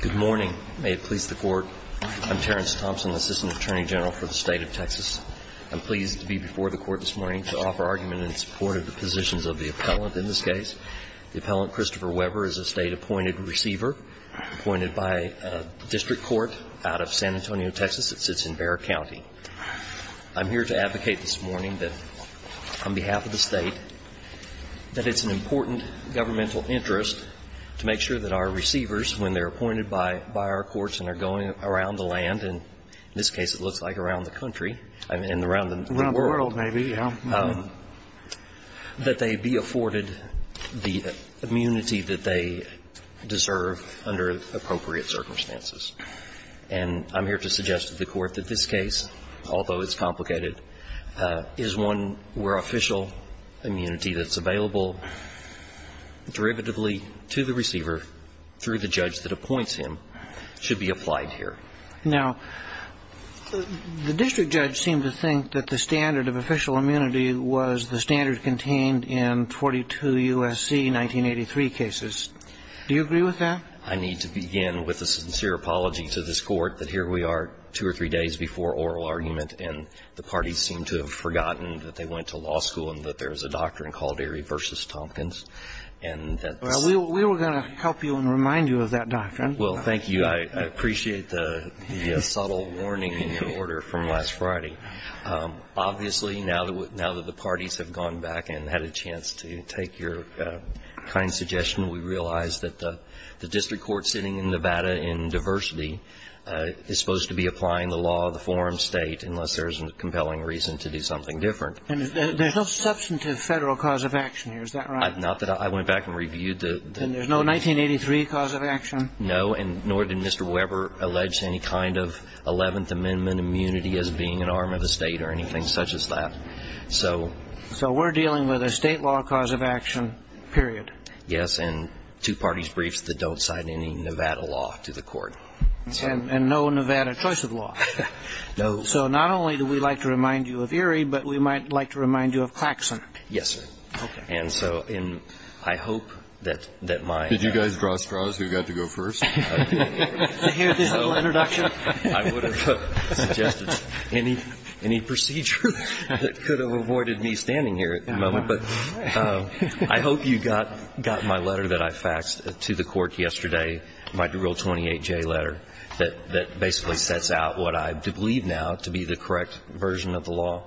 Good morning. May it please the Court. I'm Terrence Thompson, Assistant Attorney General for the State of Texas. I'm pleased to be before the Court this morning to offer argument in support of the positions of the appellant in this case. The appellant, Christopher Weber, is a State-appointed receiver appointed by a district court out of San Antonio, Texas. It sits in Bexar County. I'm here to advocate this morning that on behalf of the State, that it's an important governmental interest to make sure that our receivers when they're appointed by our courts and are going around the land, and in this case it looks like around the country, and around the world, that they be afforded the immunity that they deserve under appropriate circumstances. And I'm here to suggest to the Court that this case, although it's complicated, is one where official immunity that's available derivatively to the receiver through the judge that appoints him should be applied here. Now, the district judge seemed to think that the standard of official immunity was the standard contained in 42 U.S.C. 1983 cases. Do you agree with that? I need to begin with a sincere apology to this Court, that here we are two or three days before oral argument, and the parties seem to have forgotten that they went to law school and that there's a doctrine called Erie v. Tompkins, and that's the case. Well, we were going to help you and remind you of that doctrine. Well, thank you. I appreciate the subtle warning in your order from last Friday. Obviously, now that the parties have gone back and had a chance to take your kind suggestion, we realize that the district court sitting in Nevada in diversity is supposed to be applying the law of the forum state unless there's a compelling reason to do something different. And there's no substantive federal cause of action here, is that right? Not that I went back and reviewed the... And there's no 1983 cause of action? No, and nor did Mr. Weber allege any kind of 11th Amendment immunity as being an arm of the state or anything such as that. So we're dealing with a state law cause of action, period. Yes, and two parties' briefs that don't cite any Nevada law to the court. And no Nevada choice of law. No. So not only do we like to remind you of Erie, but we might like to remind you of Claxon. Yes, sir. Okay. And so I hope that my... Did you guys draw straws who got to go first? To hear this little introduction? I would have suggested any procedure that could have avoided me standing here at the moment. But I hope you got my letter that I faxed to the court yesterday, my real 28J letter, that basically sets out what I believe now to be the correct version of the law.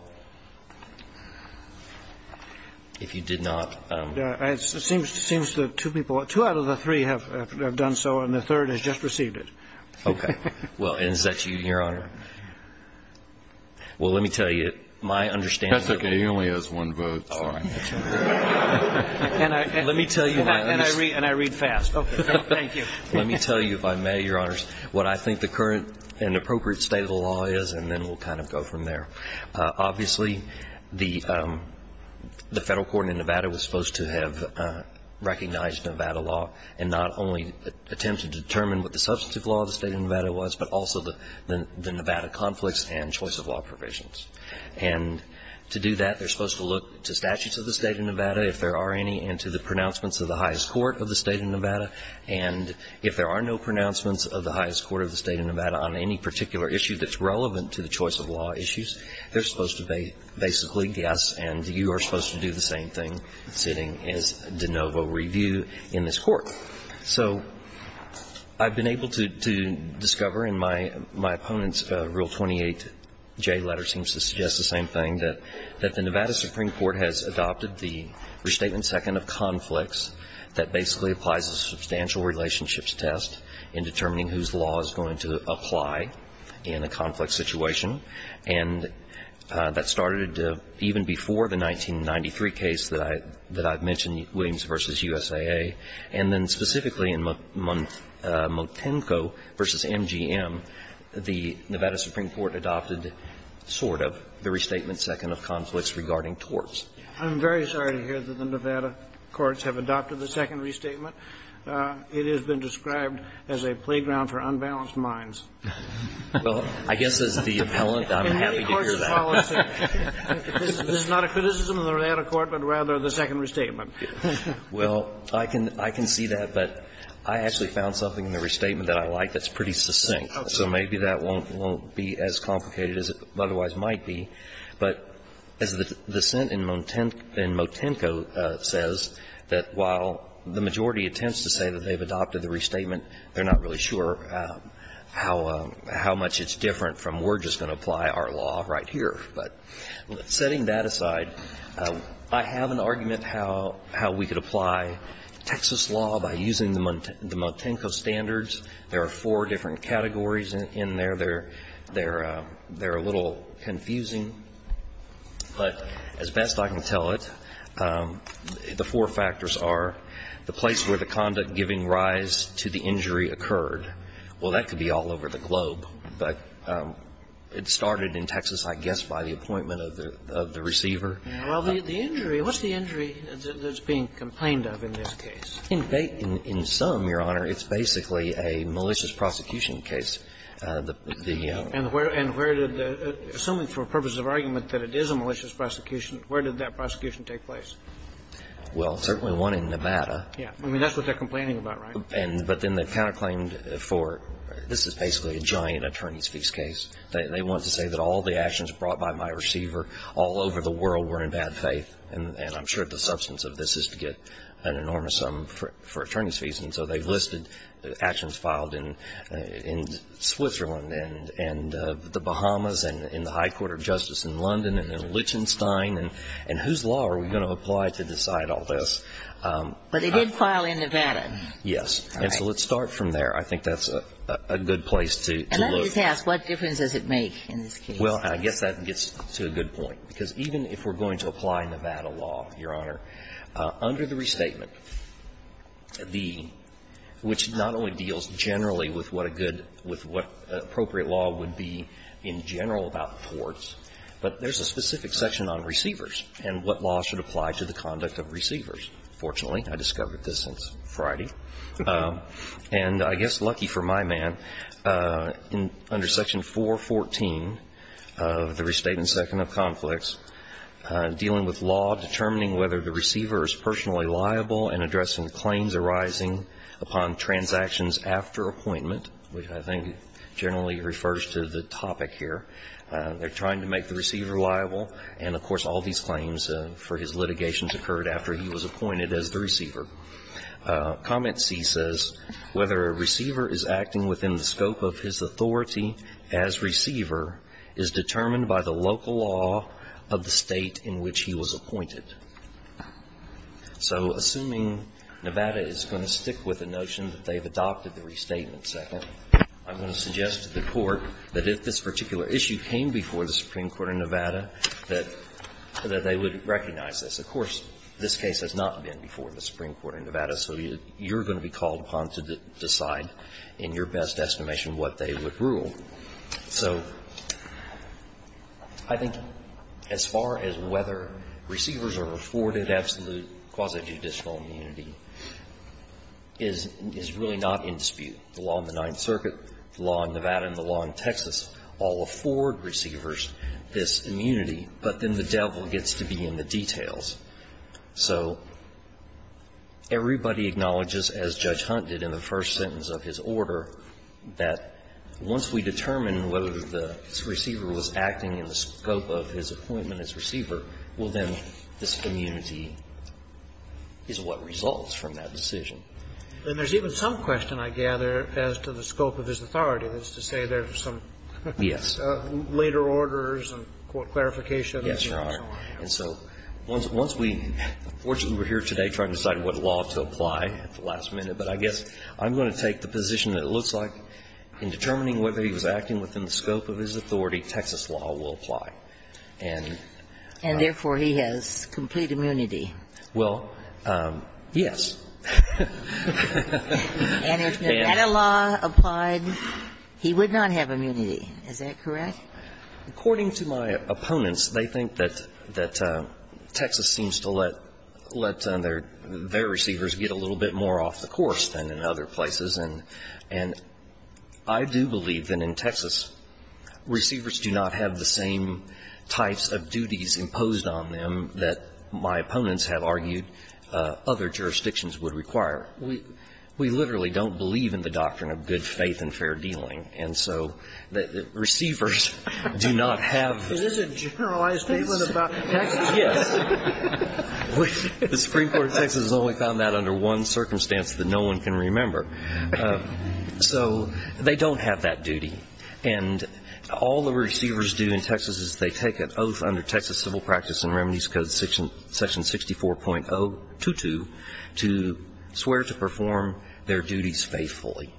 If you did not... It seems that two people, two out of the three have done so, and the third has just received it. Okay. Well, is that you, Your Honor? Well, let me tell you, my understanding... That's okay. He only has one vote. All right. Let me tell you, my understanding... And I read fast. Okay. Thank you. Let me tell you, if I may, Your Honors, what I think the current and appropriate state of the law is, and then we'll kind of go from there. Obviously, the Federal Court in Nevada was supposed to have recognized Nevada law and not only attempt to determine what the substantive law of the State of Nevada was, but also the Nevada conflicts and choice of law provisions. And to do that, they're supposed to look to statutes of the State of Nevada, if there are any, and to the pronouncements of the highest court of the State of Nevada. And if there are no pronouncements of the highest court of the State of Nevada on any particular issue that's relevant to the choice of law issues, they're supposed to basically guess, and you are supposed to do the same thing sitting as de novo review in this court. So I've been able to discover in my opponent's Rule 28J letter seems to suggest the same thing, that the Nevada Supreme Court has adopted the Restatement Second of Conflicts that basically applies a substantial relationships test in determining whose law is going to apply in a conflict situation. And that started even before the 1993 case that I've mentioned, Williams v. USAA. And then specifically in Motenko v. MGM, the Nevada Supreme Court adopted sort of the Restatement Second of Conflicts regarding torts. I'm very sorry to hear that the Nevada courts have adopted the second restatement. It has been described as a playground for unbalanced minds. Well, I guess as the appellant, I'm happy to hear that. In any court's policy, this is not a criticism of the Nevada court, but rather the second restatement. Well, I can see that, but I actually found something in the restatement that I like that's pretty succinct. So maybe that won't be as complicated as it otherwise might be. But as the sent in Motenko says, that while the majority attempts to say that they've I'm not sure how much it's different from we're just going to apply our law right here. But setting that aside, I have an argument how we could apply Texas law by using the Motenko standards. There are four different categories in there. They're a little confusing, but as best I can tell it, the four factors are the place where the conduct giving rise to the injury occurred. Well, that could be all over the globe, but it started in Texas, I guess, by the appointment of the receiver. Well, the injury, what's the injury that's being complained of in this case? In some, Your Honor, it's basically a malicious prosecution case. And where did the assuming for purposes of argument that it is a malicious prosecution, Well, certainly one in Nevada. Yeah, I mean, that's what they're complaining about, right? And but then they counter claimed for this is basically a giant attorney's fees case. They want to say that all the actions brought by my receiver all over the world were in bad faith. And I'm sure the substance of this is to get an enormous sum for attorney's fees. And so they've listed the actions filed in Switzerland and the Bahamas and in the High Court of Justice in London and Lichtenstein. And whose law are we going to apply to decide all this? But they did file in Nevada. Yes. And so let's start from there. I think that's a good place to look. And let me just ask, what difference does it make in this case? Well, I guess that gets to a good point. Because even if we're going to apply Nevada law, Your Honor, under the restatement, the – which not only deals generally with what a good – with what appropriate law would be in general about courts, but there's a specific section on receivers and what law should apply to the conduct of receivers. Fortunately, I discovered this since Friday. And I guess lucky for my man, under Section 414 of the Restatement Second of Conflicts, dealing with law, determining whether the receiver is personally liable, and addressing claims arising upon transactions after appointment, which I think generally refers to the topic here. They're trying to make the receiver liable. And, of course, all these claims for his litigation occurred after he was appointed as the receiver. Comment C says, whether a receiver is acting within the scope of his authority as receiver is determined by the local law of the state in which he was appointed. So assuming Nevada is going to stick with the notion that they've adopted the restatement second, I'm going to suggest to the Court that if this particular issue came before the Supreme Court of Nevada, that they would recognize this. Of course, this case has not been before the Supreme Court of Nevada, so you're going to be called upon to decide in your best estimation what they would rule. So I think as far as whether receivers are afforded absolute quasi-judicial immunity is really not in dispute. The law in the Ninth Circuit, the law in Nevada, and the law in Texas all afford receivers this immunity, but then the devil gets to be in the details. So everybody acknowledges, as Judge Hunt did in the first sentence of his order, that once we determine whether the receiver was acting in the scope of his appointment as receiver, well, then this immunity is what results from that decision. And there's even some question, I gather, as to the scope of his authority. That's to say there's some question. Yes. Later orders and clarification and so on. Yes, Your Honor. And so once we – fortunately, we're here today trying to decide what law to apply at the last minute, but I guess I'm going to take the position that it looks like in determining whether he was acting within the scope of his authority, Texas law will apply. And therefore, he has complete immunity. And if Nevada law applied, he would not have immunity. Is that correct? According to my opponents, they think that Texas seems to let their receivers get a little bit more off the course than in other places. And I do believe that in Texas, receivers do not have the same types of duties imposed on them that my opponents have argued other jurisdictions would require. We literally don't believe in the doctrine of good faith and fair dealing. And so the receivers do not have the – Is this a generalized statement about Texas? Yes. The Supreme Court of Texas has only found that under one circumstance that no one can remember. So they don't have that duty. And all the receivers do in Texas is they take an oath under Texas Civil Practice and Remedies Code section 64.022 to swear to perform their duties faithfully,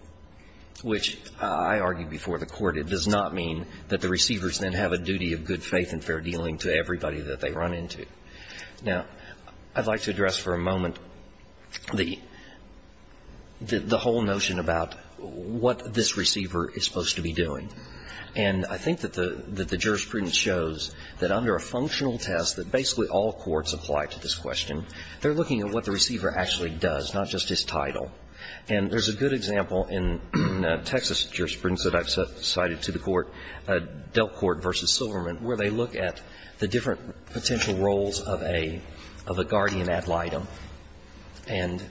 which I argued before the Court, it does not mean that the receivers then have a duty of good faith and fair dealing to everybody that they run into. Now, I'd like to address for a moment the whole notion about what this receiver is supposed to be doing. And I think that the jurisprudence shows that under a functional test that basically all courts apply to this question, they're looking at what the receiver actually does, not just his title. And there's a good example in Texas jurisprudence that I've cited to the Court, Delcourt v. Silverman, where they look at the different potential roles of a guardian ad litem. And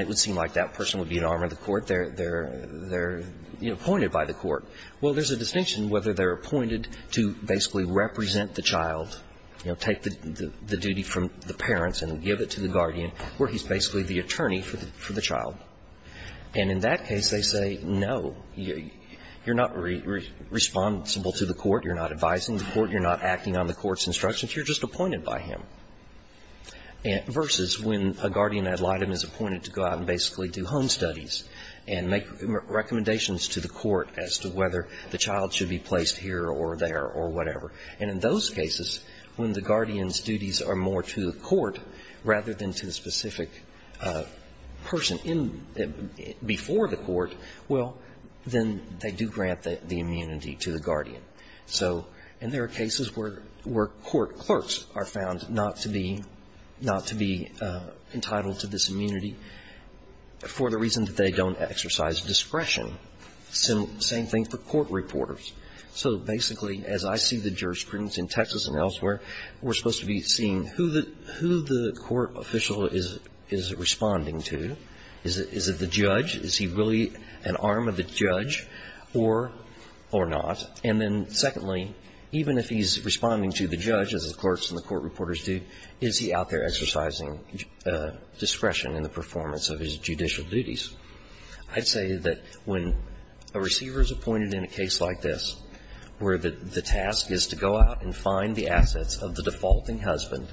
it would seem like that person would be an arm of the Court. They're appointed by the Court. Well, there's a distinction whether they're appointed to basically represent the child, you know, take the duty from the parents and give it to the guardian, where he's basically the attorney for the child. And in that case, they say, no, you're not responsible to the Court. You're not advising the Court. You're not acting on the Court's instructions. You're just appointed by him. Versus when a guardian ad litem is appointed to go out and basically do home studies and make recommendations to the Court as to whether the child should be placed here or there or whatever. And in those cases, when the guardian's duties are more to the Court rather than to the specific person in the – before the Court, well, then they do grant the immunity to the guardian. So – and there are cases where Court clerks are found not to be – not to be entitled to this immunity for the reason that they don't exercise discretion. Same thing for court reporters. So basically, as I see the jurisprudence in Texas and elsewhere, we're supposed to be seeing who the – who the court official is responding to. Is it the judge? Is he really an arm of the judge or not? And then secondly, even if he's responding to the judge, as the clerks and the court reporters do, is he out there exercising discretion in the performance of his judicial duties? I'd say that when a receiver is appointed in a case like this, where the task is to go out and find the assets of the defaulting husband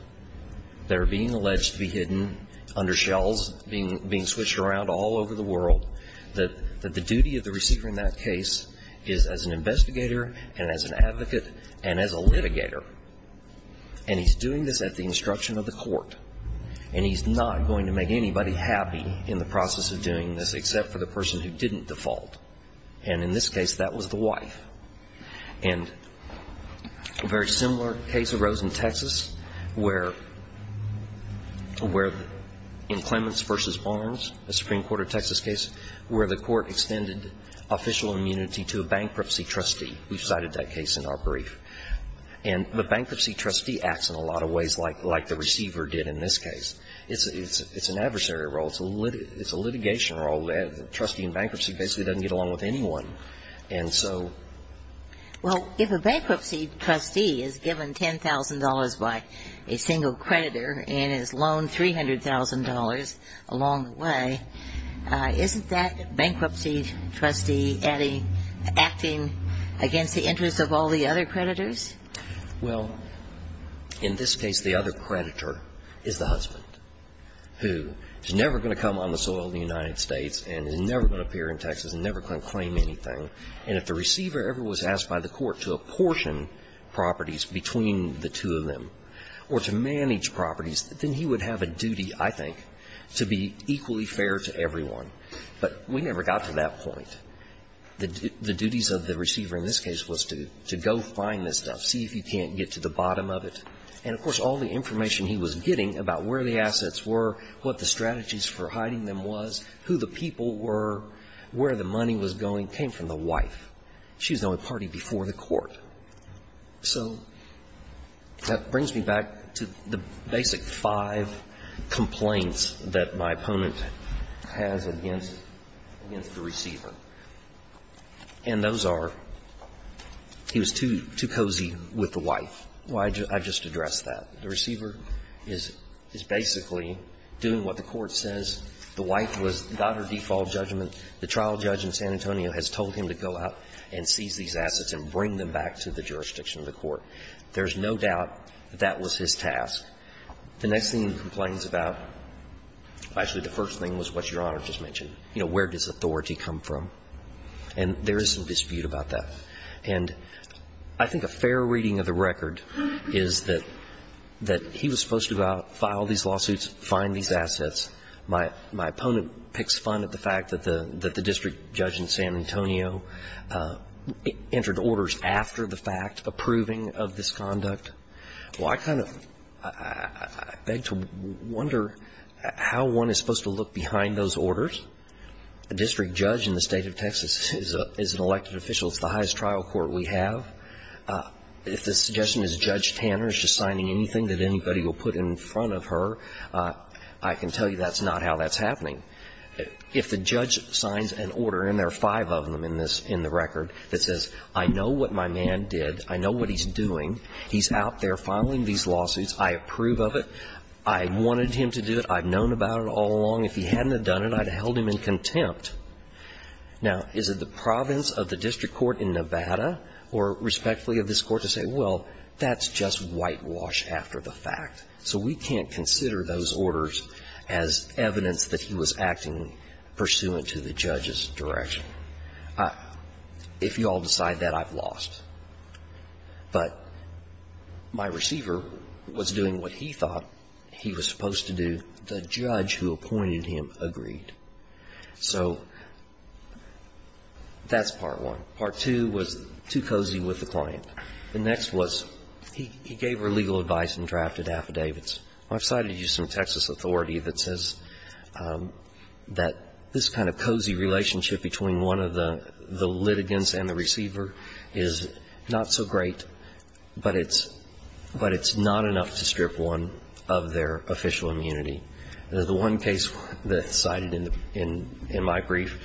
that are being alleged to be hidden under shells, being switched around all over the world, that the duty of the receiver in that case is as an investigator and as an advocate and as a litigator. And he's doing this at the instruction of the Court, and he's not going to make anybody happy in the process of doing this except for the person who didn't default. And in this case, that was the wife. And a very similar case arose in Texas where – where in Clements v. Barnes, the Supreme Court of Texas case, where the court extended official immunity to a bankruptcy trustee who cited that case in our brief. And the bankruptcy trustee acts in a lot of ways like the receiver did in this case. It's an adversary role. It's a litigation role. The trustee in bankruptcy basically doesn't get along with anyone. And so – Well, if a bankruptcy trustee is given $10,000 by a single creditor and is loaned $300,000 along the way, isn't that bankruptcy trustee acting against the interests of all the other creditors? Well, in this case, the other creditor is the husband, who is never going to come on And if the receiver ever was asked by the court to apportion properties between the two of them or to manage properties, then he would have a duty, I think, to be equally fair to everyone, but we never got to that point. The duties of the receiver in this case was to go find this stuff, see if he can't get to the bottom of it. And, of course, all the information he was getting about where the assets were, what the strategies for hiding them was, who the people were, where the money was going, came from the wife. She was the only party before the court. So that brings me back to the basic five complaints that my opponent has against the receiver, and those are he was too cozy with the wife. I just addressed that. The receiver is basically doing what the court says. The wife got her default judgment. The trial judge in San Antonio has told him to go out and seize these assets and bring them back to the jurisdiction of the court. There's no doubt that that was his task. The next thing he complains about, actually, the first thing was what Your Honor just mentioned. You know, where does authority come from? And there is some dispute about that. And I think a fair reading of the record is that he was supposed to go out, file these lawsuits, find these assets. My opponent picks fun at the fact that the district judge in San Antonio entered orders after the fact approving of this conduct. Well, I kind of beg to wonder how one is supposed to look behind those orders. A district judge in the State of Texas is an elected official. It's the highest trial court we have. If the suggestion is Judge Tanner is just signing anything that anybody will put in front of her, I can tell you that's not how that's happening. If the judge signs an order, and there are five of them in the record, that says, I know what my man did. I know what he's doing. He's out there filing these lawsuits. I approve of it. I wanted him to do it. I've known about it all along. If he hadn't have done it, I'd have held him in contempt. Now, is it the province of the district court in Nevada or respectfully of this court to say, well, that's just whitewash after the fact? So we can't consider those orders as evidence that he was acting pursuant to the judge's direction. If you all decide that, I've lost. But my receiver was doing what he thought he was supposed to do. The judge who appointed him agreed. So that's part one. Part two was too cozy with the client. The next was he gave her legal advice and drafted affidavits. I've cited U.S. and Texas authority that says that this kind of cozy relationship between one of the litigants and the receiver is not so great, but it's not enough to strip one of their official immunity. The one case that's cited in my brief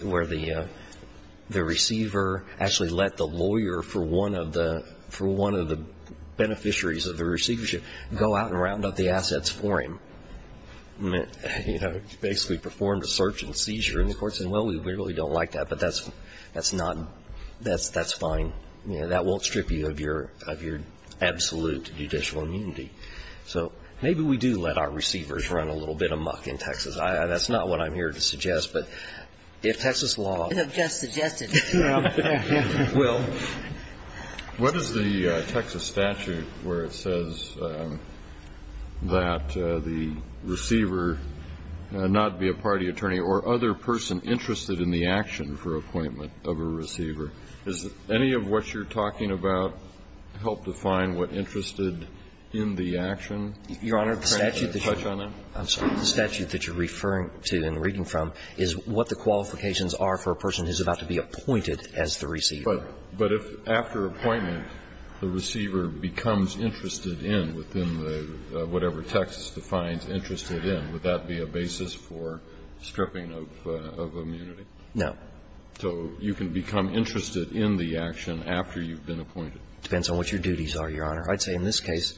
where the receiver actually let the lawyer for one of the beneficiaries of the receivership go out and round up the assets for him, basically performed a search and seizure. And the court said, well, we really don't like that, but that's fine. That won't strip you of your absolute judicial immunity. So maybe we do let our receivers run a little bit of muck in Texas. That's not what I'm here to suggest. But if Texas law ---- You have just suggested it. Well ---- What is the Texas statute where it says that the receiver not be a party attorney or other person interested in the action for appointment of a receiver? Does any of what you're talking about help define what interested in the action ---- Your Honor, the statute that you're referring to and reading from is what the qualifications are for a person who's about to be appointed as the receiver. But if after appointment the receiver becomes interested in within the ---- whatever the Texas defines interested in, would that be a basis for stripping of immunity? No. So you can become interested in the action after you've been appointed? Depends on what your duties are, Your Honor. I'd say in this case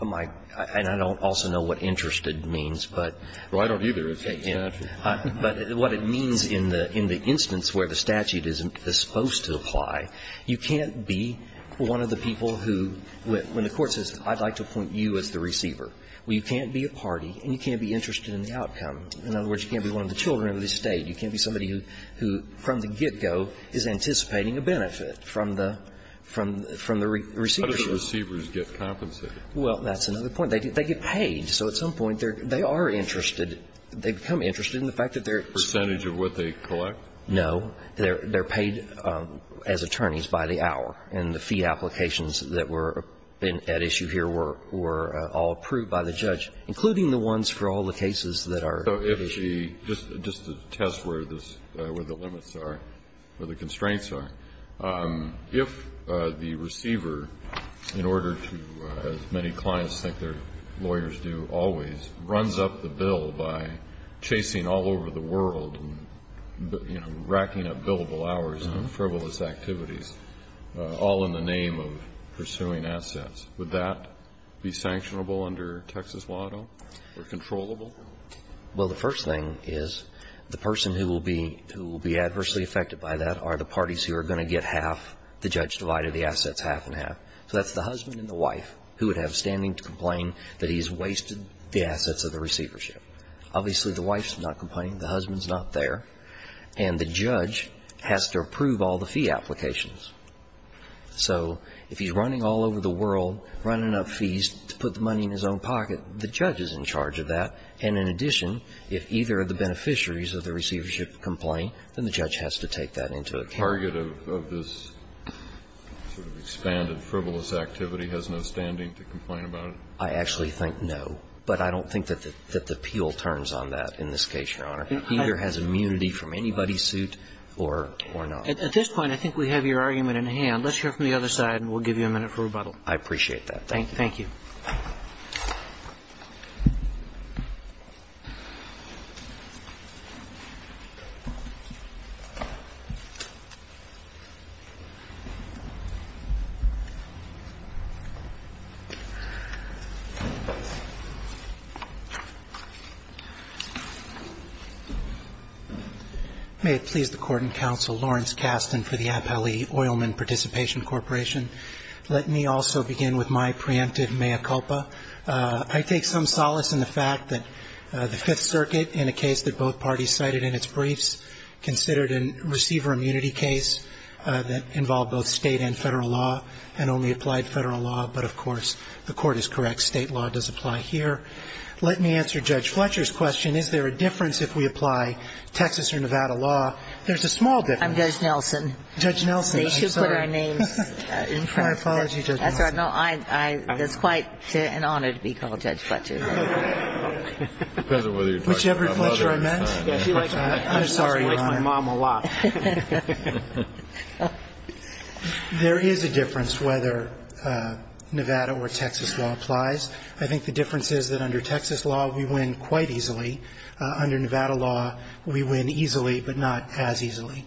my ---- and I don't also know what interested means, but ---- Well, I don't either. It's the statute. But what it means in the instance where the statute is supposed to apply, you can't be one of the people who, when the court says I'd like to appoint you as the receiver, well, you can't be a party and you can't be interested in the outcome. In other words, you can't be one of the children of the State. You can't be somebody who, from the get-go, is anticipating a benefit from the receiver. How do the receivers get compensated? Well, that's another point. They get paid. So at some point they are interested. They become interested in the fact that they're ---- Percentage of what they collect? No. They're paid as attorneys by the hour. And the fee applications that were at issue here were all approved by the judge, including the ones for all the cases that are ---- So if the ---- just to test where this ---- where the limits are, where the constraints are, if the receiver, in order to, as many clients think their lawyers do always, runs up the bill by chasing all over the world and, you know, racking up billable hours on frivolous activities, all in the name of pursuing assets, would that be sanctionable under Texas law, though, or controllable? Well, the first thing is the person who will be adversely affected by that are the parties who are going to get half the judge-divided, the assets half and half. So that's the husband and the wife who would have standing to complain that he's wasted the assets of the receivership. Obviously, the wife's not complaining. The husband's not there. And the judge has to approve all the fee applications. So if he's running all over the world, running up fees to put the money in his own pocket, the judge is in charge of that, and in addition, if either of the beneficiaries of the receivership complain, then the judge has to take that into account. So the target of this sort of expanded frivolous activity has no standing to complain about it? I actually think no. But I don't think that the appeal turns on that in this case, Your Honor. It either has immunity from anybody's suit or not. At this point, I think we have your argument in hand. Let's hear from the other side, and we'll give you a minute for rebuttal. Thank you. May it please the Court and Counsel Lawrence Kasten for the Appellee Oilman Participation Corporation. Let me also begin with my preemptive mea culpa. I take some solace in the fact that the Fifth Circuit, in a case that both parties cited in its briefs, considered a receiver immunity case that involved both state and federal law and only applied federal law. But, of course, the Court is correct. State law does apply here. Let me answer Judge Fletcher's question. Is there a difference if we apply Texas or Nevada law? There's a small difference. I'm Judge Nelson. Judge Nelson, I'm sorry. They should put our names in front of it. My apologies, Judge Nelson. That's all right. It's quite an honor to be called Judge Fletcher. Whichever Fletcher I meant. I'm sorry, Your Honor. She likes my mom a lot. There is a difference whether Nevada or Texas law applies. I think the difference is that under Texas law, we win quite easily. Under Nevada law, we win easily, but not as easily.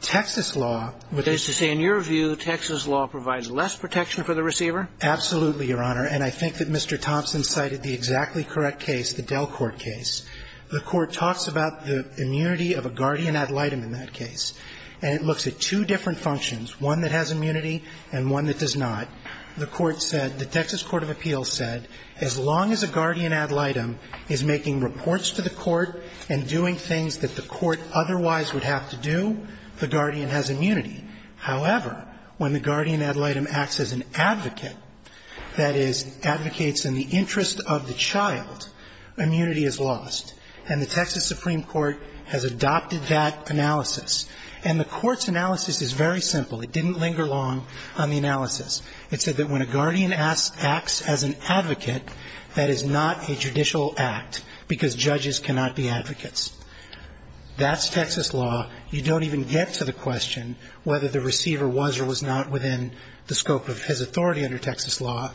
Texas law would be the same. In your view, Texas law provides less protection for the receiver? Absolutely, Your Honor. And I think that Mr. Thompson cited the exactly correct case, the Delcourt case. The Court talks about the immunity of a guardian ad litem in that case, and it looks at two different functions, one that has immunity and one that does not. The court said, the Texas Court of Appeals said, as long as a guardian ad litem is making reports to the court and doing things that the court otherwise would have to do, the guardian has immunity. However, when the guardian ad litem acts as an advocate, that is, advocates in the interest of the child, immunity is lost. And the Texas Supreme Court has adopted that analysis. And the Court's analysis is very simple. It didn't linger long on the analysis. It said that when a guardian acts as an advocate, that is not a judicial act because judges cannot be advocates. That's Texas law. You don't even get to the question whether the receiver was or was not within the scope of his authority under Texas law,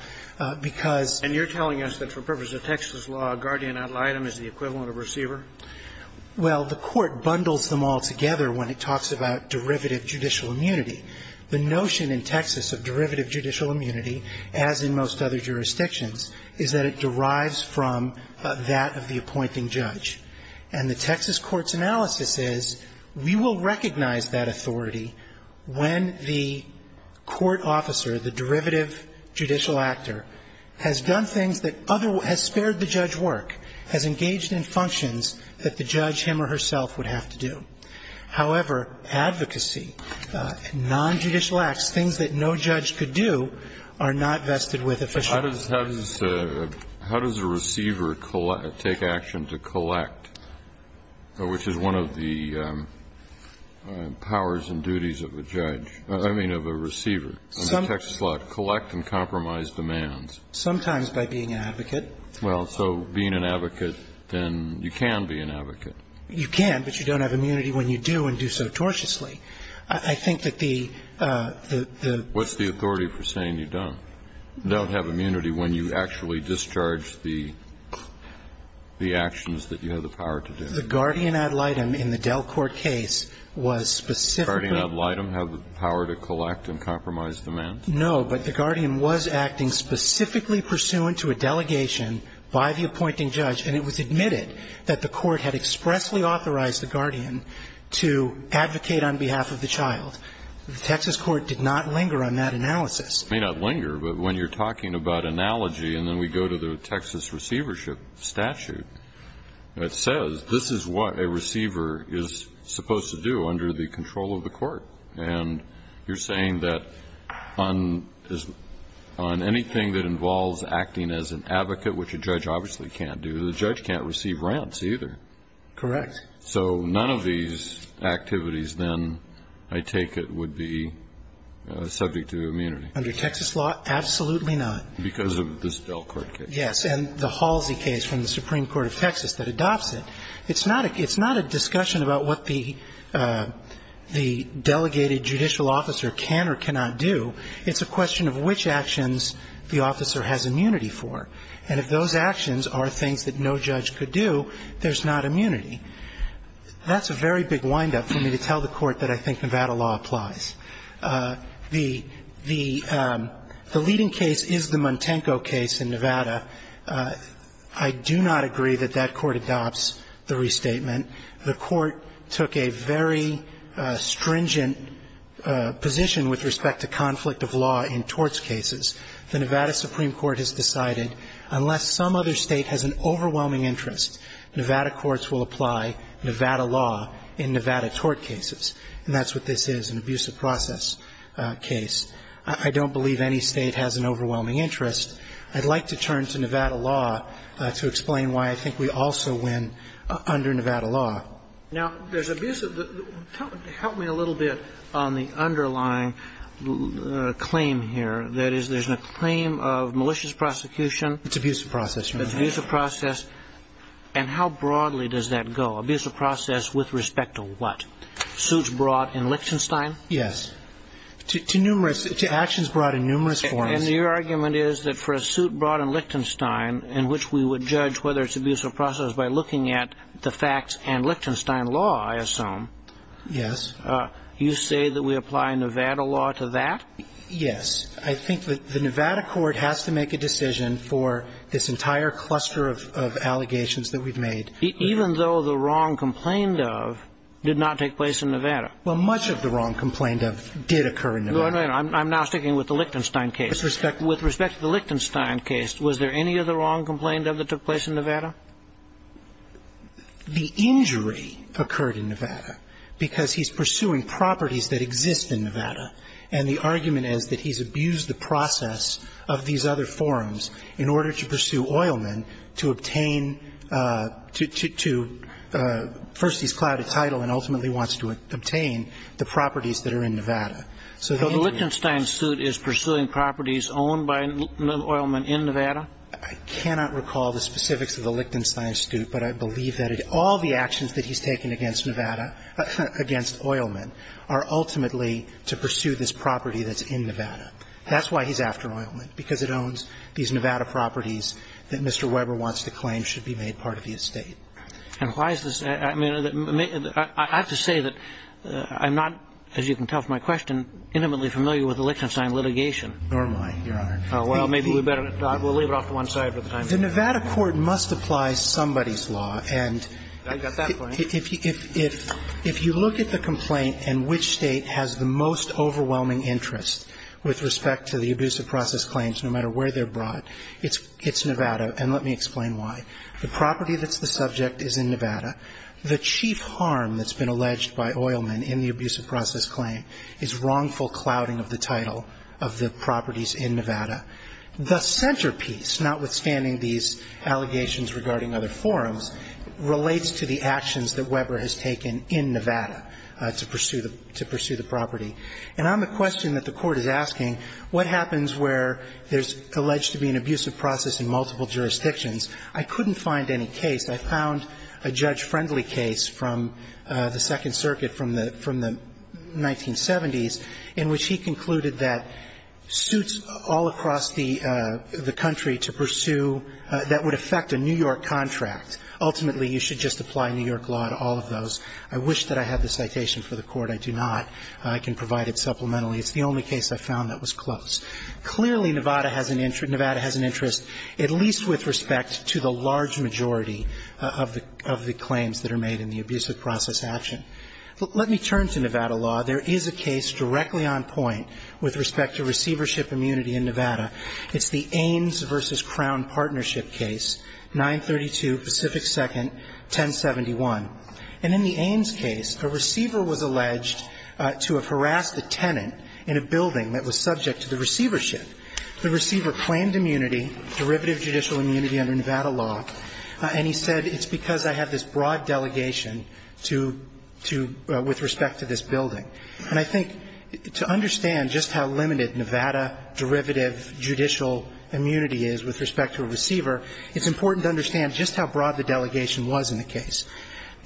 because you're telling us that for purposes of Texas law, a guardian ad litem is the equivalent of receiver? Well, the Court bundles them all together when it talks about derivative judicial immunity. The notion in Texas of derivative judicial immunity, as in most other jurisdictions, is that it derives from that of the appointing judge. And the Texas Court's analysis is we will recognize that authority when the court officer, the derivative judicial actor, has done things that other – has spared the judge work, has engaged in functions that the judge, him or herself, would have to do. However, advocacy, nonjudicial acts, things that no judge could do, are not vested with officials. How does a receiver take action to collect, which is one of the powers and duties of a judge – I mean, of a receiver under Texas law, collect and compromise demands? Sometimes by being an advocate. Well, so being an advocate, then you can be an advocate. You can, but you don't have immunity when you do and do so tortiously. I think that the – the – the – What's the authority for saying you don't? You don't have immunity when you actually discharge the actions that you have the power to do. The guardian ad litem in the Dell Court case was specifically – The guardian ad litem had the power to collect and compromise demands? No, but the guardian was acting specifically pursuant to a delegation by the appointing that the court had expressly authorized the guardian to advocate on behalf of the child. The Texas court did not linger on that analysis. It may not linger, but when you're talking about analogy and then we go to the Texas receivership statute, it says this is what a receiver is supposed to do under the control of the court. And you're saying that on – on anything that involves acting as an advocate, which a judge obviously can't do, the judge can't receive rents either. Correct. So none of these activities then, I take it, would be subject to immunity. Under Texas law, absolutely not. Because of this Dell Court case. Yes. And the Halsey case from the Supreme Court of Texas that adopts it. It's not a – it's not a discussion about what the – the delegated judicial officer can or cannot do. It's a question of which actions the officer has immunity for. And if those actions are things that no judge could do, there's not immunity. That's a very big wind-up for me to tell the court that I think Nevada law applies. The – the leading case is the Montengo case in Nevada. I do not agree that that court adopts the restatement. The court took a very stringent position with respect to conflict of law in torts cases. The Nevada Supreme Court has decided unless some other State has an overwhelming interest, Nevada courts will apply Nevada law in Nevada tort cases. And that's what this is, an abusive process case. I don't believe any State has an overwhelming interest. I'd like to turn to Nevada law to explain why I think we also win under Nevada law. Now, there's abusive – help me a little bit on the underlying claim here. That is, there's a claim of malicious prosecution. It's abusive process. It's abusive process. And how broadly does that go? Abusive process with respect to what? Suits brought in Lichtenstein? Yes. To numerous – to actions brought in numerous forms. And your argument is that for a suit brought in Lichtenstein in which we would judge whether it's abusive process by looking at the facts and Lichtenstein law, I assume. Yes. You say that we apply Nevada law to that? Yes. I think the Nevada court has to make a decision for this entire cluster of allegations that we've made. Even though the wrong complained of did not take place in Nevada? Well, much of the wrong complained of did occur in Nevada. I'm now sticking with the Lichtenstein case. With respect to the Lichtenstein case, was there any of the wrong complained of that took place in Nevada? The injury occurred in Nevada because he's pursuing properties that exist in Nevada. And the argument is that he's abused the process of these other forms in order to pursue Oilman to obtain to – first he's clouded title and ultimately wants to obtain the properties that are in Nevada. So the Lichtenstein suit is pursuing properties owned by Oilman in Nevada? I cannot recall the specifics of the Lichtenstein suit, but I believe that all the actions that he's taken against Nevada – against Oilman are ultimately to pursue this property that's in Nevada. That's why he's after Oilman, because it owns these Nevada properties that Mr. Weber wants to claim should be made part of the estate. And why is this – I mean, I have to say that I'm not, as you can tell from my question, intimately familiar with the Lichtenstein litigation. Nor am I, Your Honor. Well, maybe we better – we'll leave it off to one side for the time being. The Nevada court must apply somebody's law. And if you look at the complaint and which State has the most overwhelming interest with respect to the abusive process claims, no matter where they're brought, it's Nevada. And let me explain why. The property that's the subject is in Nevada. The chief harm that's been alleged by Oilman in the abusive process claim is wrongful clouding of the title of the properties in Nevada. The centerpiece, notwithstanding these allegations regarding other forums, relates to the actions that Weber has taken in Nevada to pursue the property. And on the question that the Court is asking, what happens where there's alleged to be an abusive process in multiple jurisdictions, I couldn't find any case. I found a judge-friendly case from the Second Circuit from the 1970s in which he concluded that suits all across the country to pursue that would affect a New York contract, ultimately you should just apply New York law to all of those. I wish that I had the citation for the Court. I do not. I can provide it supplementarily. It's the only case I found that was close. Clearly, Nevada has an interest, at least with respect to the large majority of the claims that are made in the abusive process action. Let me turn to Nevada law. There is a case directly on point with respect to receivership immunity in Nevada. It's the Ames v. Crown Partnership case, 932 Pacific 2nd, 1071. And in the Ames case, a receiver was alleged to have harassed a tenant in a building that was subject to the receivership. The receiver claimed immunity, derivative judicial immunity under Nevada law, and he said it's because I have this broad delegation with respect to this building. And I think to understand just how limited Nevada derivative judicial immunity is with respect to a receiver, it's important to understand just how broad the delegation was in the case.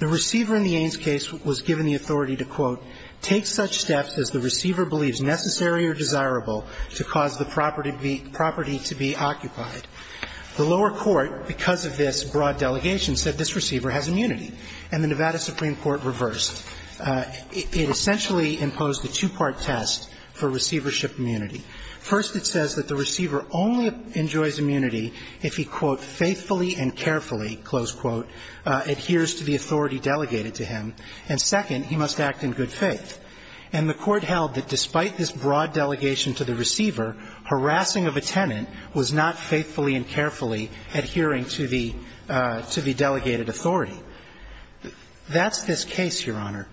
The receiver in the Ames case was given the authority to, quote, take such steps as the receiver believes necessary or desirable to cause the property to be occupied. The lower court, because of this broad delegation, said this receiver has immunity, and the Nevada Supreme Court reversed. It essentially imposed a two-part test for receivership immunity. First, it says that the receiver only enjoys immunity if he, quote, faithfully and carefully, close quote, adheres to the authority delegated to him. And second, he must act in good faith. And the Court held that despite this broad delegation to the receiver, harassing of a tenant was not faithfully and carefully adhering to the delegated authority. That's this case, Your Honor.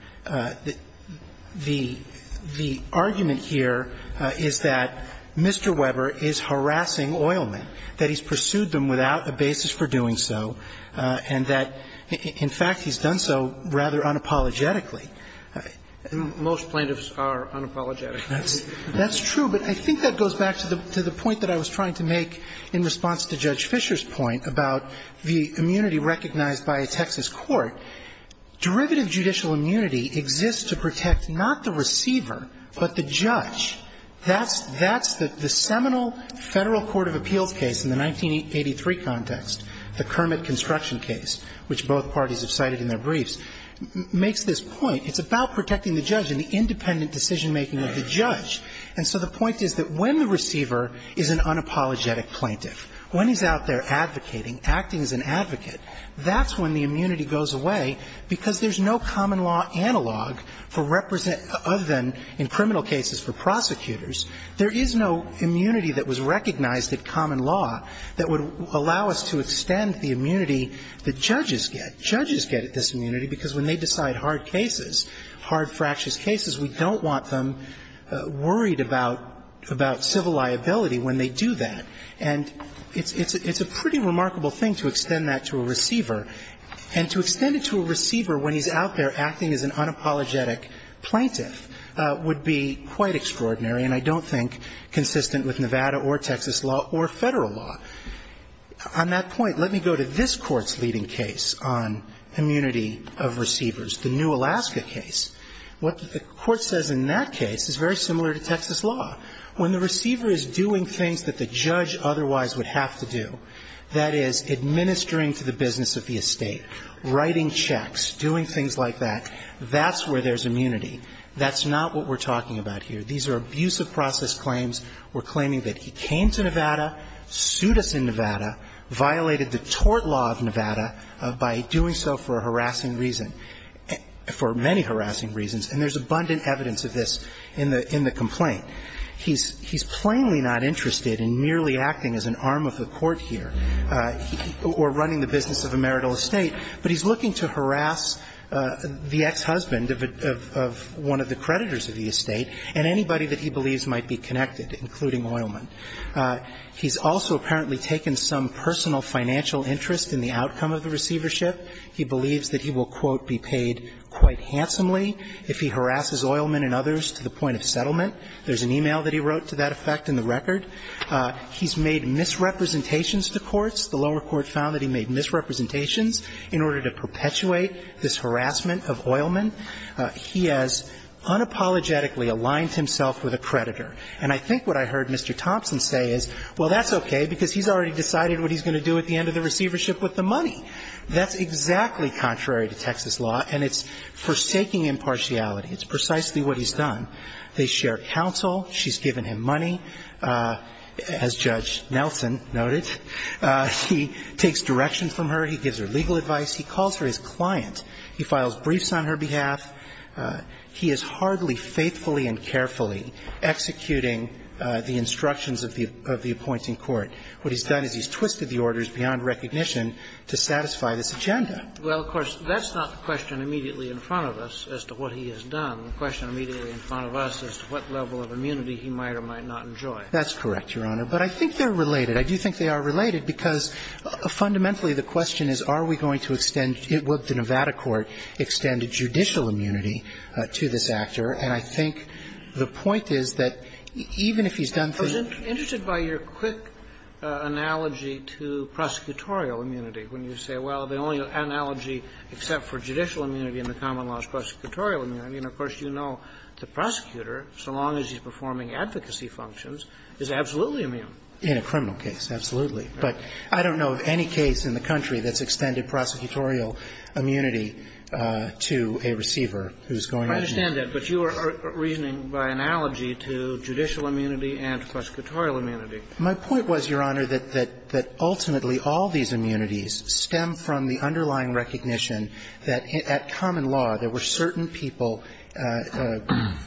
The argument here is that Mr. Weber is harassing oilmen, that he's pursued them without a basis for doing so, and that, in fact, he's done so rather unapologetically. Most plaintiffs are unapologetically. That's true. But I think that goes back to the point that I was trying to make in response to Judge Fisher's point about the immunity recognized by a Texas court. Derivative judicial immunity exists to protect not the receiver but the judge. That's the seminal Federal court of appeals case in the 1983 context, the Kermit construction case, which both parties have cited in their briefs, makes this point. It's about protecting the judge and the independent decision-making of the judge. And so the point is that when the receiver is an unapologetic plaintiff, when he's out there advocating, acting as an advocate, that's when the immunity goes away, because there's no common law analog for represent other than in criminal cases for prosecutors. There is no immunity that was recognized in common law that would allow us to extend the immunity that judges get. Judges get this immunity because when they decide hard cases, hard fractious cases, we don't want them worried about civil liability when they do that. And it's a pretty remarkable thing to extend that to a receiver. And to extend it to a receiver when he's out there acting as an unapologetic plaintiff would be quite extraordinary and I don't think consistent with Nevada or Texas law or Federal law. On that point, let me go to this Court's leading case on immunity of receivers, the New Alaska case. What the Court says in that case is very similar to Texas law. When the receiver is doing things that the judge otherwise would have to do, that is, administering to the business of the estate, writing checks, doing things like that, that's where there's immunity. That's not what we're talking about here. These are abusive process claims. We're claiming that he came to Nevada, sued us in Nevada, violated the tort law of many harassing reasons, and there's abundant evidence of this in the complaint. He's plainly not interested in merely acting as an arm of the Court here or running the business of a marital estate, but he's looking to harass the ex-husband of one of the creditors of the estate and anybody that he believes might be connected, including oilmen. He's also apparently taken some personal financial interest in the outcome of the receivership. He believes that he will, quote, be paid quite handsomely if he harasses oilmen and others to the point of settlement. There's an e-mail that he wrote to that effect in the record. He's made misrepresentations to courts. The lower court found that he made misrepresentations in order to perpetuate this harassment of oilmen. He has unapologetically aligned himself with a creditor. And I think what I heard Mr. Thompson say is, well, that's okay, because he's already decided what he's going to do at the end of the receivership with the money. That's exactly contrary to Texas law, and it's forsaking impartiality. It's precisely what he's done. They share counsel. She's given him money, as Judge Nelson noted. He takes direction from her. He gives her legal advice. He calls her his client. He files briefs on her behalf. He is hardly faithfully and carefully executing the instructions of the appointing court. What he's done is he's twisted the orders beyond recognition to satisfy this agenda. Well, of course, that's not the question immediately in front of us as to what he has done. The question immediately in front of us is what level of immunity he might or might not enjoy. That's correct, Your Honor. But I think they're related. I do think they are related, because fundamentally the question is, are we going to extend the Nevada court extend a judicial immunity to this actor? And I think the point is that even if he's done things to him. I'm interested by your quick analogy to prosecutorial immunity, when you say, well, the only analogy except for judicial immunity in the common law is prosecutorial immunity. And, of course, you know the prosecutor, so long as he's performing advocacy functions, is absolutely immune. In a criminal case, absolutely. But I don't know of any case in the country that's extended prosecutorial immunity to a receiver who's going to be. I understand that, but you are reasoning by analogy to judicial immunity and prosecutorial immunity. My point was, Your Honor, that ultimately all these immunities stem from the underlying recognition that at common law there were certain people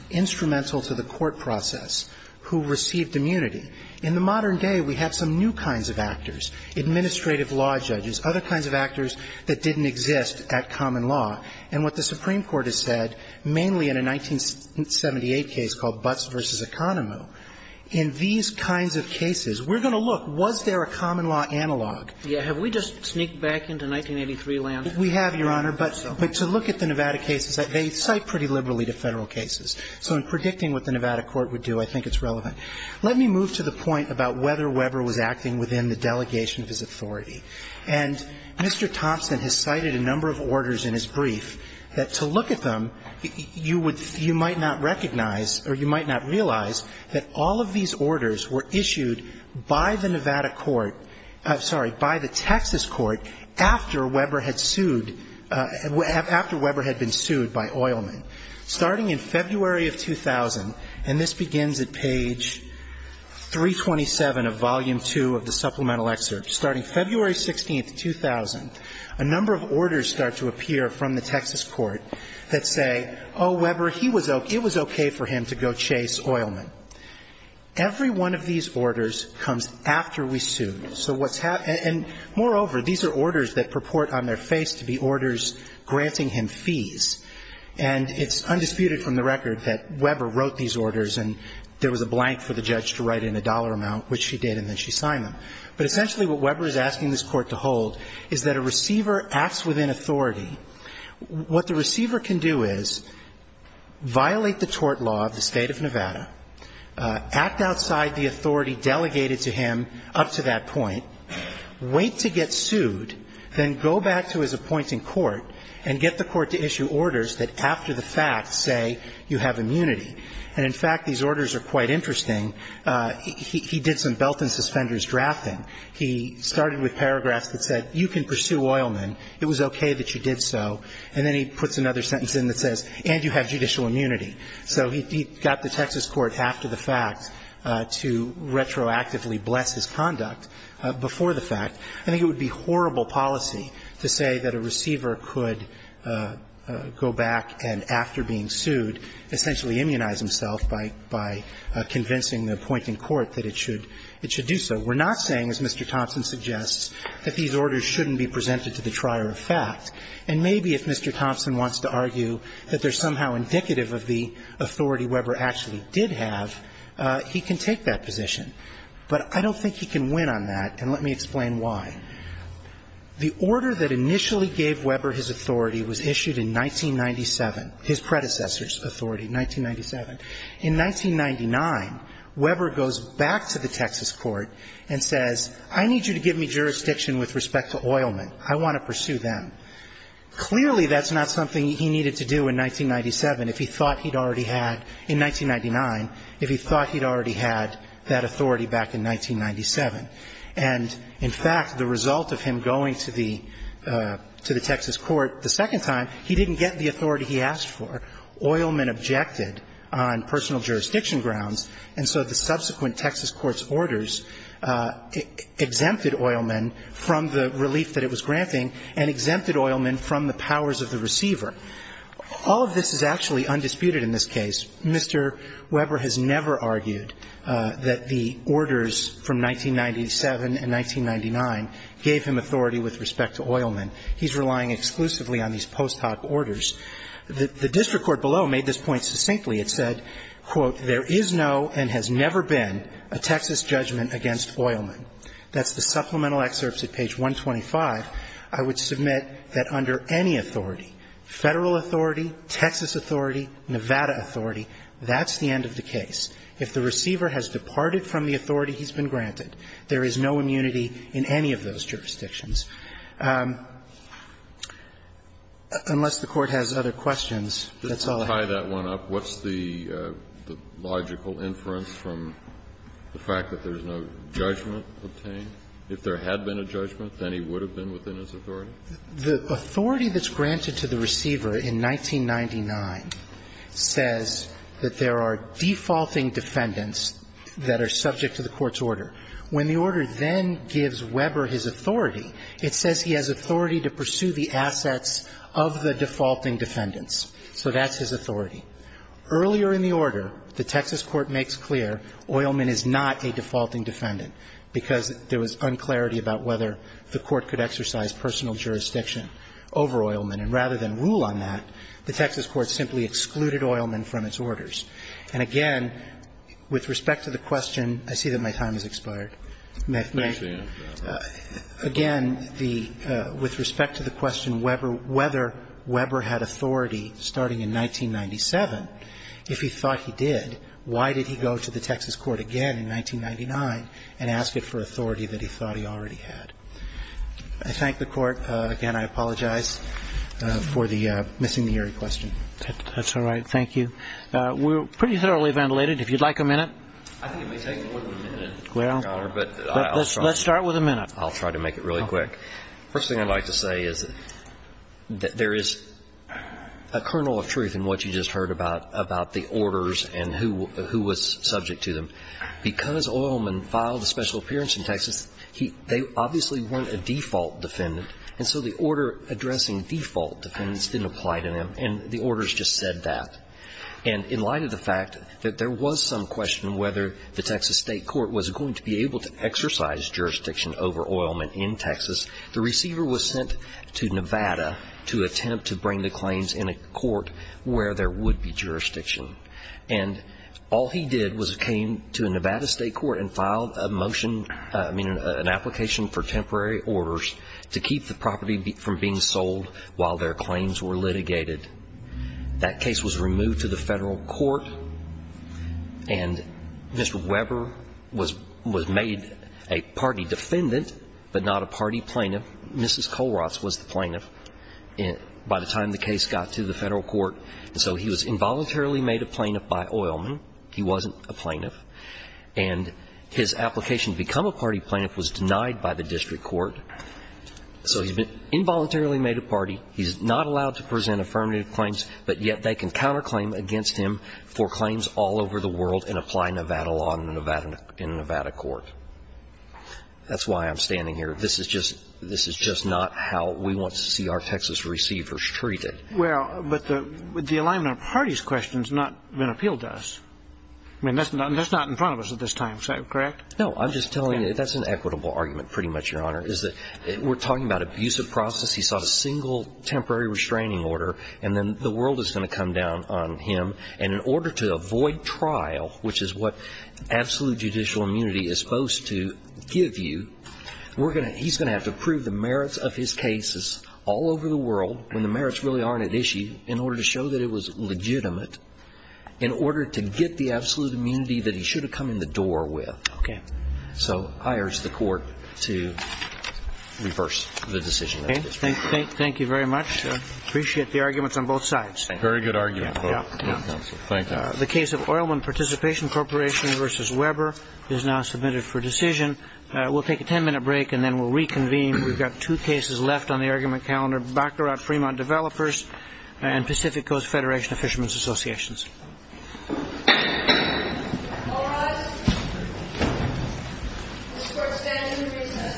instrumental to the court process who received immunity. In the modern day, we have some new kinds of actors, administrative law judges, other kinds of actors that didn't exist at common law. And what the Supreme Court has said, mainly in a 1978 case called Butts v. Economo, in these kinds of cases, we're going to look, was there a common law analog? Yeah. Have we just sneaked back into 1983 land? We have, Your Honor. But to look at the Nevada cases, they cite pretty liberally to Federal cases. So in predicting what the Nevada court would do, I think it's relevant. Let me move to the point about whether Weber was acting within the delegation of his authority. And Mr. Thompson has cited a number of orders in his brief that to look at them, you would you might not recognize or you might not realize that all of these orders were issued by the Nevada court, I'm sorry, by the Texas court after Weber had sued after Weber had been sued by Oilman. Starting in February of 2000, and this begins at page 327 of volume 2 of the supplemental excerpt, starting February 16, 2000, a number of orders start to appear from the Texas court that say, oh, Weber, it was okay for him to go chase Oilman. Every one of these orders comes after we sued. So what's happened, and moreover, these are orders that purport on their face to be orders granting him fees. And it's undisputed from the record that Weber wrote these orders and there was a blank for the judge to write in a dollar amount, which she did, and then she signed them. But essentially what Weber is asking this court to hold is that a receiver acts within authority. What the receiver can do is violate the tort law of the state of Nevada, act outside the authority delegated to him up to that point, wait to get sued, then go back to his appointing court and get the court to issue orders that after the fact say you have immunity. And in fact, these orders are quite interesting. He did some belt and suspenders drafting. He started with paragraphs that said you can pursue Oilman. It was okay that you did so. And then he puts another sentence in that says and you have judicial immunity. So he got the Texas court after the fact to retroactively bless his conduct before the fact. I think it would be horrible policy to say that a receiver could go back and after being sued, essentially immunize himself by convincing the appointing court that it should do so. We're not saying, as Mr. Thompson suggests, that these orders shouldn't be presented to the trier of fact. And maybe if Mr. Thompson wants to argue that they're somehow indicative of the authority Weber actually did have, he can take that position. But I don't think he can win on that, and let me explain why. The order that initially gave Weber his authority was issued in 1997. His predecessor's authority, 1997. In 1999, Weber goes back to the Texas court and says, I need you to give me jurisdiction with respect to Oilman. I want to pursue them. Clearly that's not something he needed to do in 1997 if he thought he'd already had in 1999, if he thought he'd already had that authority back in 1997. And in fact, the result of him going to the Texas court the second time, he didn't get the authority he asked for. Oilman objected on personal jurisdiction grounds, and so the subsequent Texas court's orders exempted Oilman from the relief that it was granting and exempted Oilman from the powers of the receiver. All of this is actually undisputed in this case. Mr. Weber has never argued that the orders from 1997 and 1999 gave him authority with respect to Oilman. He's relying exclusively on these post hoc orders. The district court below made this point succinctly. It said, quote, There is no and has never been a Texas judgment against Oilman. That's the supplemental excerpts at page 125. I would submit that under any authority, Federal authority, Texas authority, Nevada authority, that's the end of the case. If the receiver has departed from the authority he's been granted, there is no immunity in any of those jurisdictions. Unless the Court has other questions, that's all I have. Kennedy. Just to tie that one up, what's the logical inference from the fact that there's no judgment obtained? If there had been a judgment, then he would have been within his authority? The authority that's granted to the receiver in 1999 says that there are defaulting defendants that are subject to the court's order. When the order then gives Weber his authority, it says he has authority to pursue the assets of the defaulting defendants. So that's his authority. Earlier in the order, the Texas court makes clear Oilman is not a defaulting defendant because there was unclarity about whether the court could exercise personal jurisdiction over Oilman. And rather than rule on that, the Texas court simply excluded Oilman from its orders. And again, with respect to the question, I see that my time is expiring. Again, with respect to the question whether Weber had authority starting in 1997, if he thought he did, why did he go to the Texas court again in 1999 and ask it for authority that he thought he already had? I thank the Court. Again, I apologize for missing the eerie question. That's all right. Thank you. We're pretty thoroughly ventilated. If you'd like a minute. I think it may take more than a minute. Well, let's start with a minute. I'll try to make it really quick. First thing I'd like to say is that there is a kernel of truth in what you just heard about, about the orders and who was subject to them. Because Oilman filed a special appearance in Texas, they obviously weren't a default defendant, and so the order addressing default defendants didn't apply to them. And the orders just said that. And in light of the fact that there was some question whether the Texas state court was going to be able to exercise jurisdiction over Oilman in Texas, the receiver was sent to Nevada to attempt to bring the claims in a court where there would be jurisdiction. And all he did was came to a Nevada state court and filed a motion, I mean, an application for temporary orders to keep the property from being sold while their claims were litigated. That case was removed to the federal court, and Mr. Weber was made a party defendant but not a party plaintiff. Mrs. Kohlroth was the plaintiff by the time the case got to the federal court. And so he was involuntarily made a plaintiff by Oilman. He wasn't a plaintiff. And his application to become a party plaintiff was denied by the district court. So he's been involuntarily made a party. He's not allowed to present affirmative claims, but yet they can counterclaim against him for claims all over the world and apply Nevada law in a Nevada court. That's why I'm standing here. This is just not how we want to see our Texas receivers treated. Well, but the alignment of parties question has not been appealed to us. I mean, that's not in front of us at this time. Is that correct? No. I'm just telling you that's an equitable argument pretty much, Your Honor, is that we're talking about abusive process. He sought a single temporary restraining order. And then the world is going to come down on him. And in order to avoid trial, which is what absolute judicial immunity is supposed to give you, he's going to have to prove the merits of his cases all over the world when the merits really aren't at issue in order to show that it was legitimate in order to get the absolute immunity that he should have come in the door with. Okay. So I urge the court to reverse the decision. Okay. Thank you very much. I appreciate the arguments on both sides. Very good argument. Thank you. The case of Oilman Participation Corporation v. Weber is now submitted for decision. We'll take a 10-minute break and then we'll reconvene. We've got two cases left on the argument calendar, Baccarat Fremont Developers and Pacific Coast Federation of Fishermen's Associations. All rise. This court stands to recess until rehearsal. Thank you. I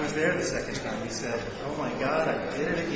was there the second time. He said, oh, my God, I did it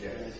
again.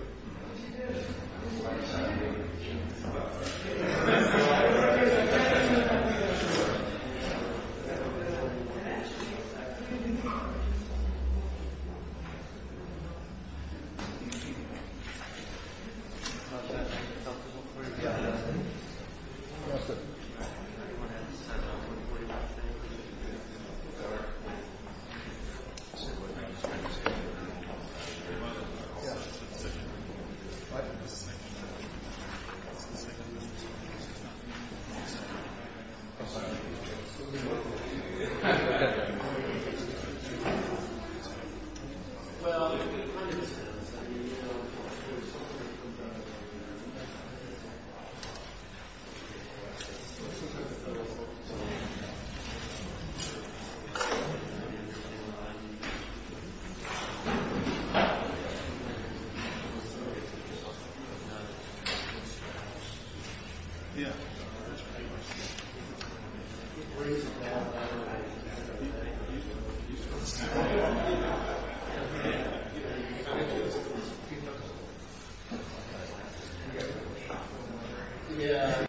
Okay. Okay. Okay. Thank you. Thank you. Thank you. Thank you. Thank you. Thank you. Thank you. Thank you. Go ahead. Good morning? Yeah. You want in. Yeah. What? Mr. Mr. He's now assigned as an ambassador for Paris. Yeah. Thank you. Sir. Yeah. Raise your bar. Now. Thank you, yeah.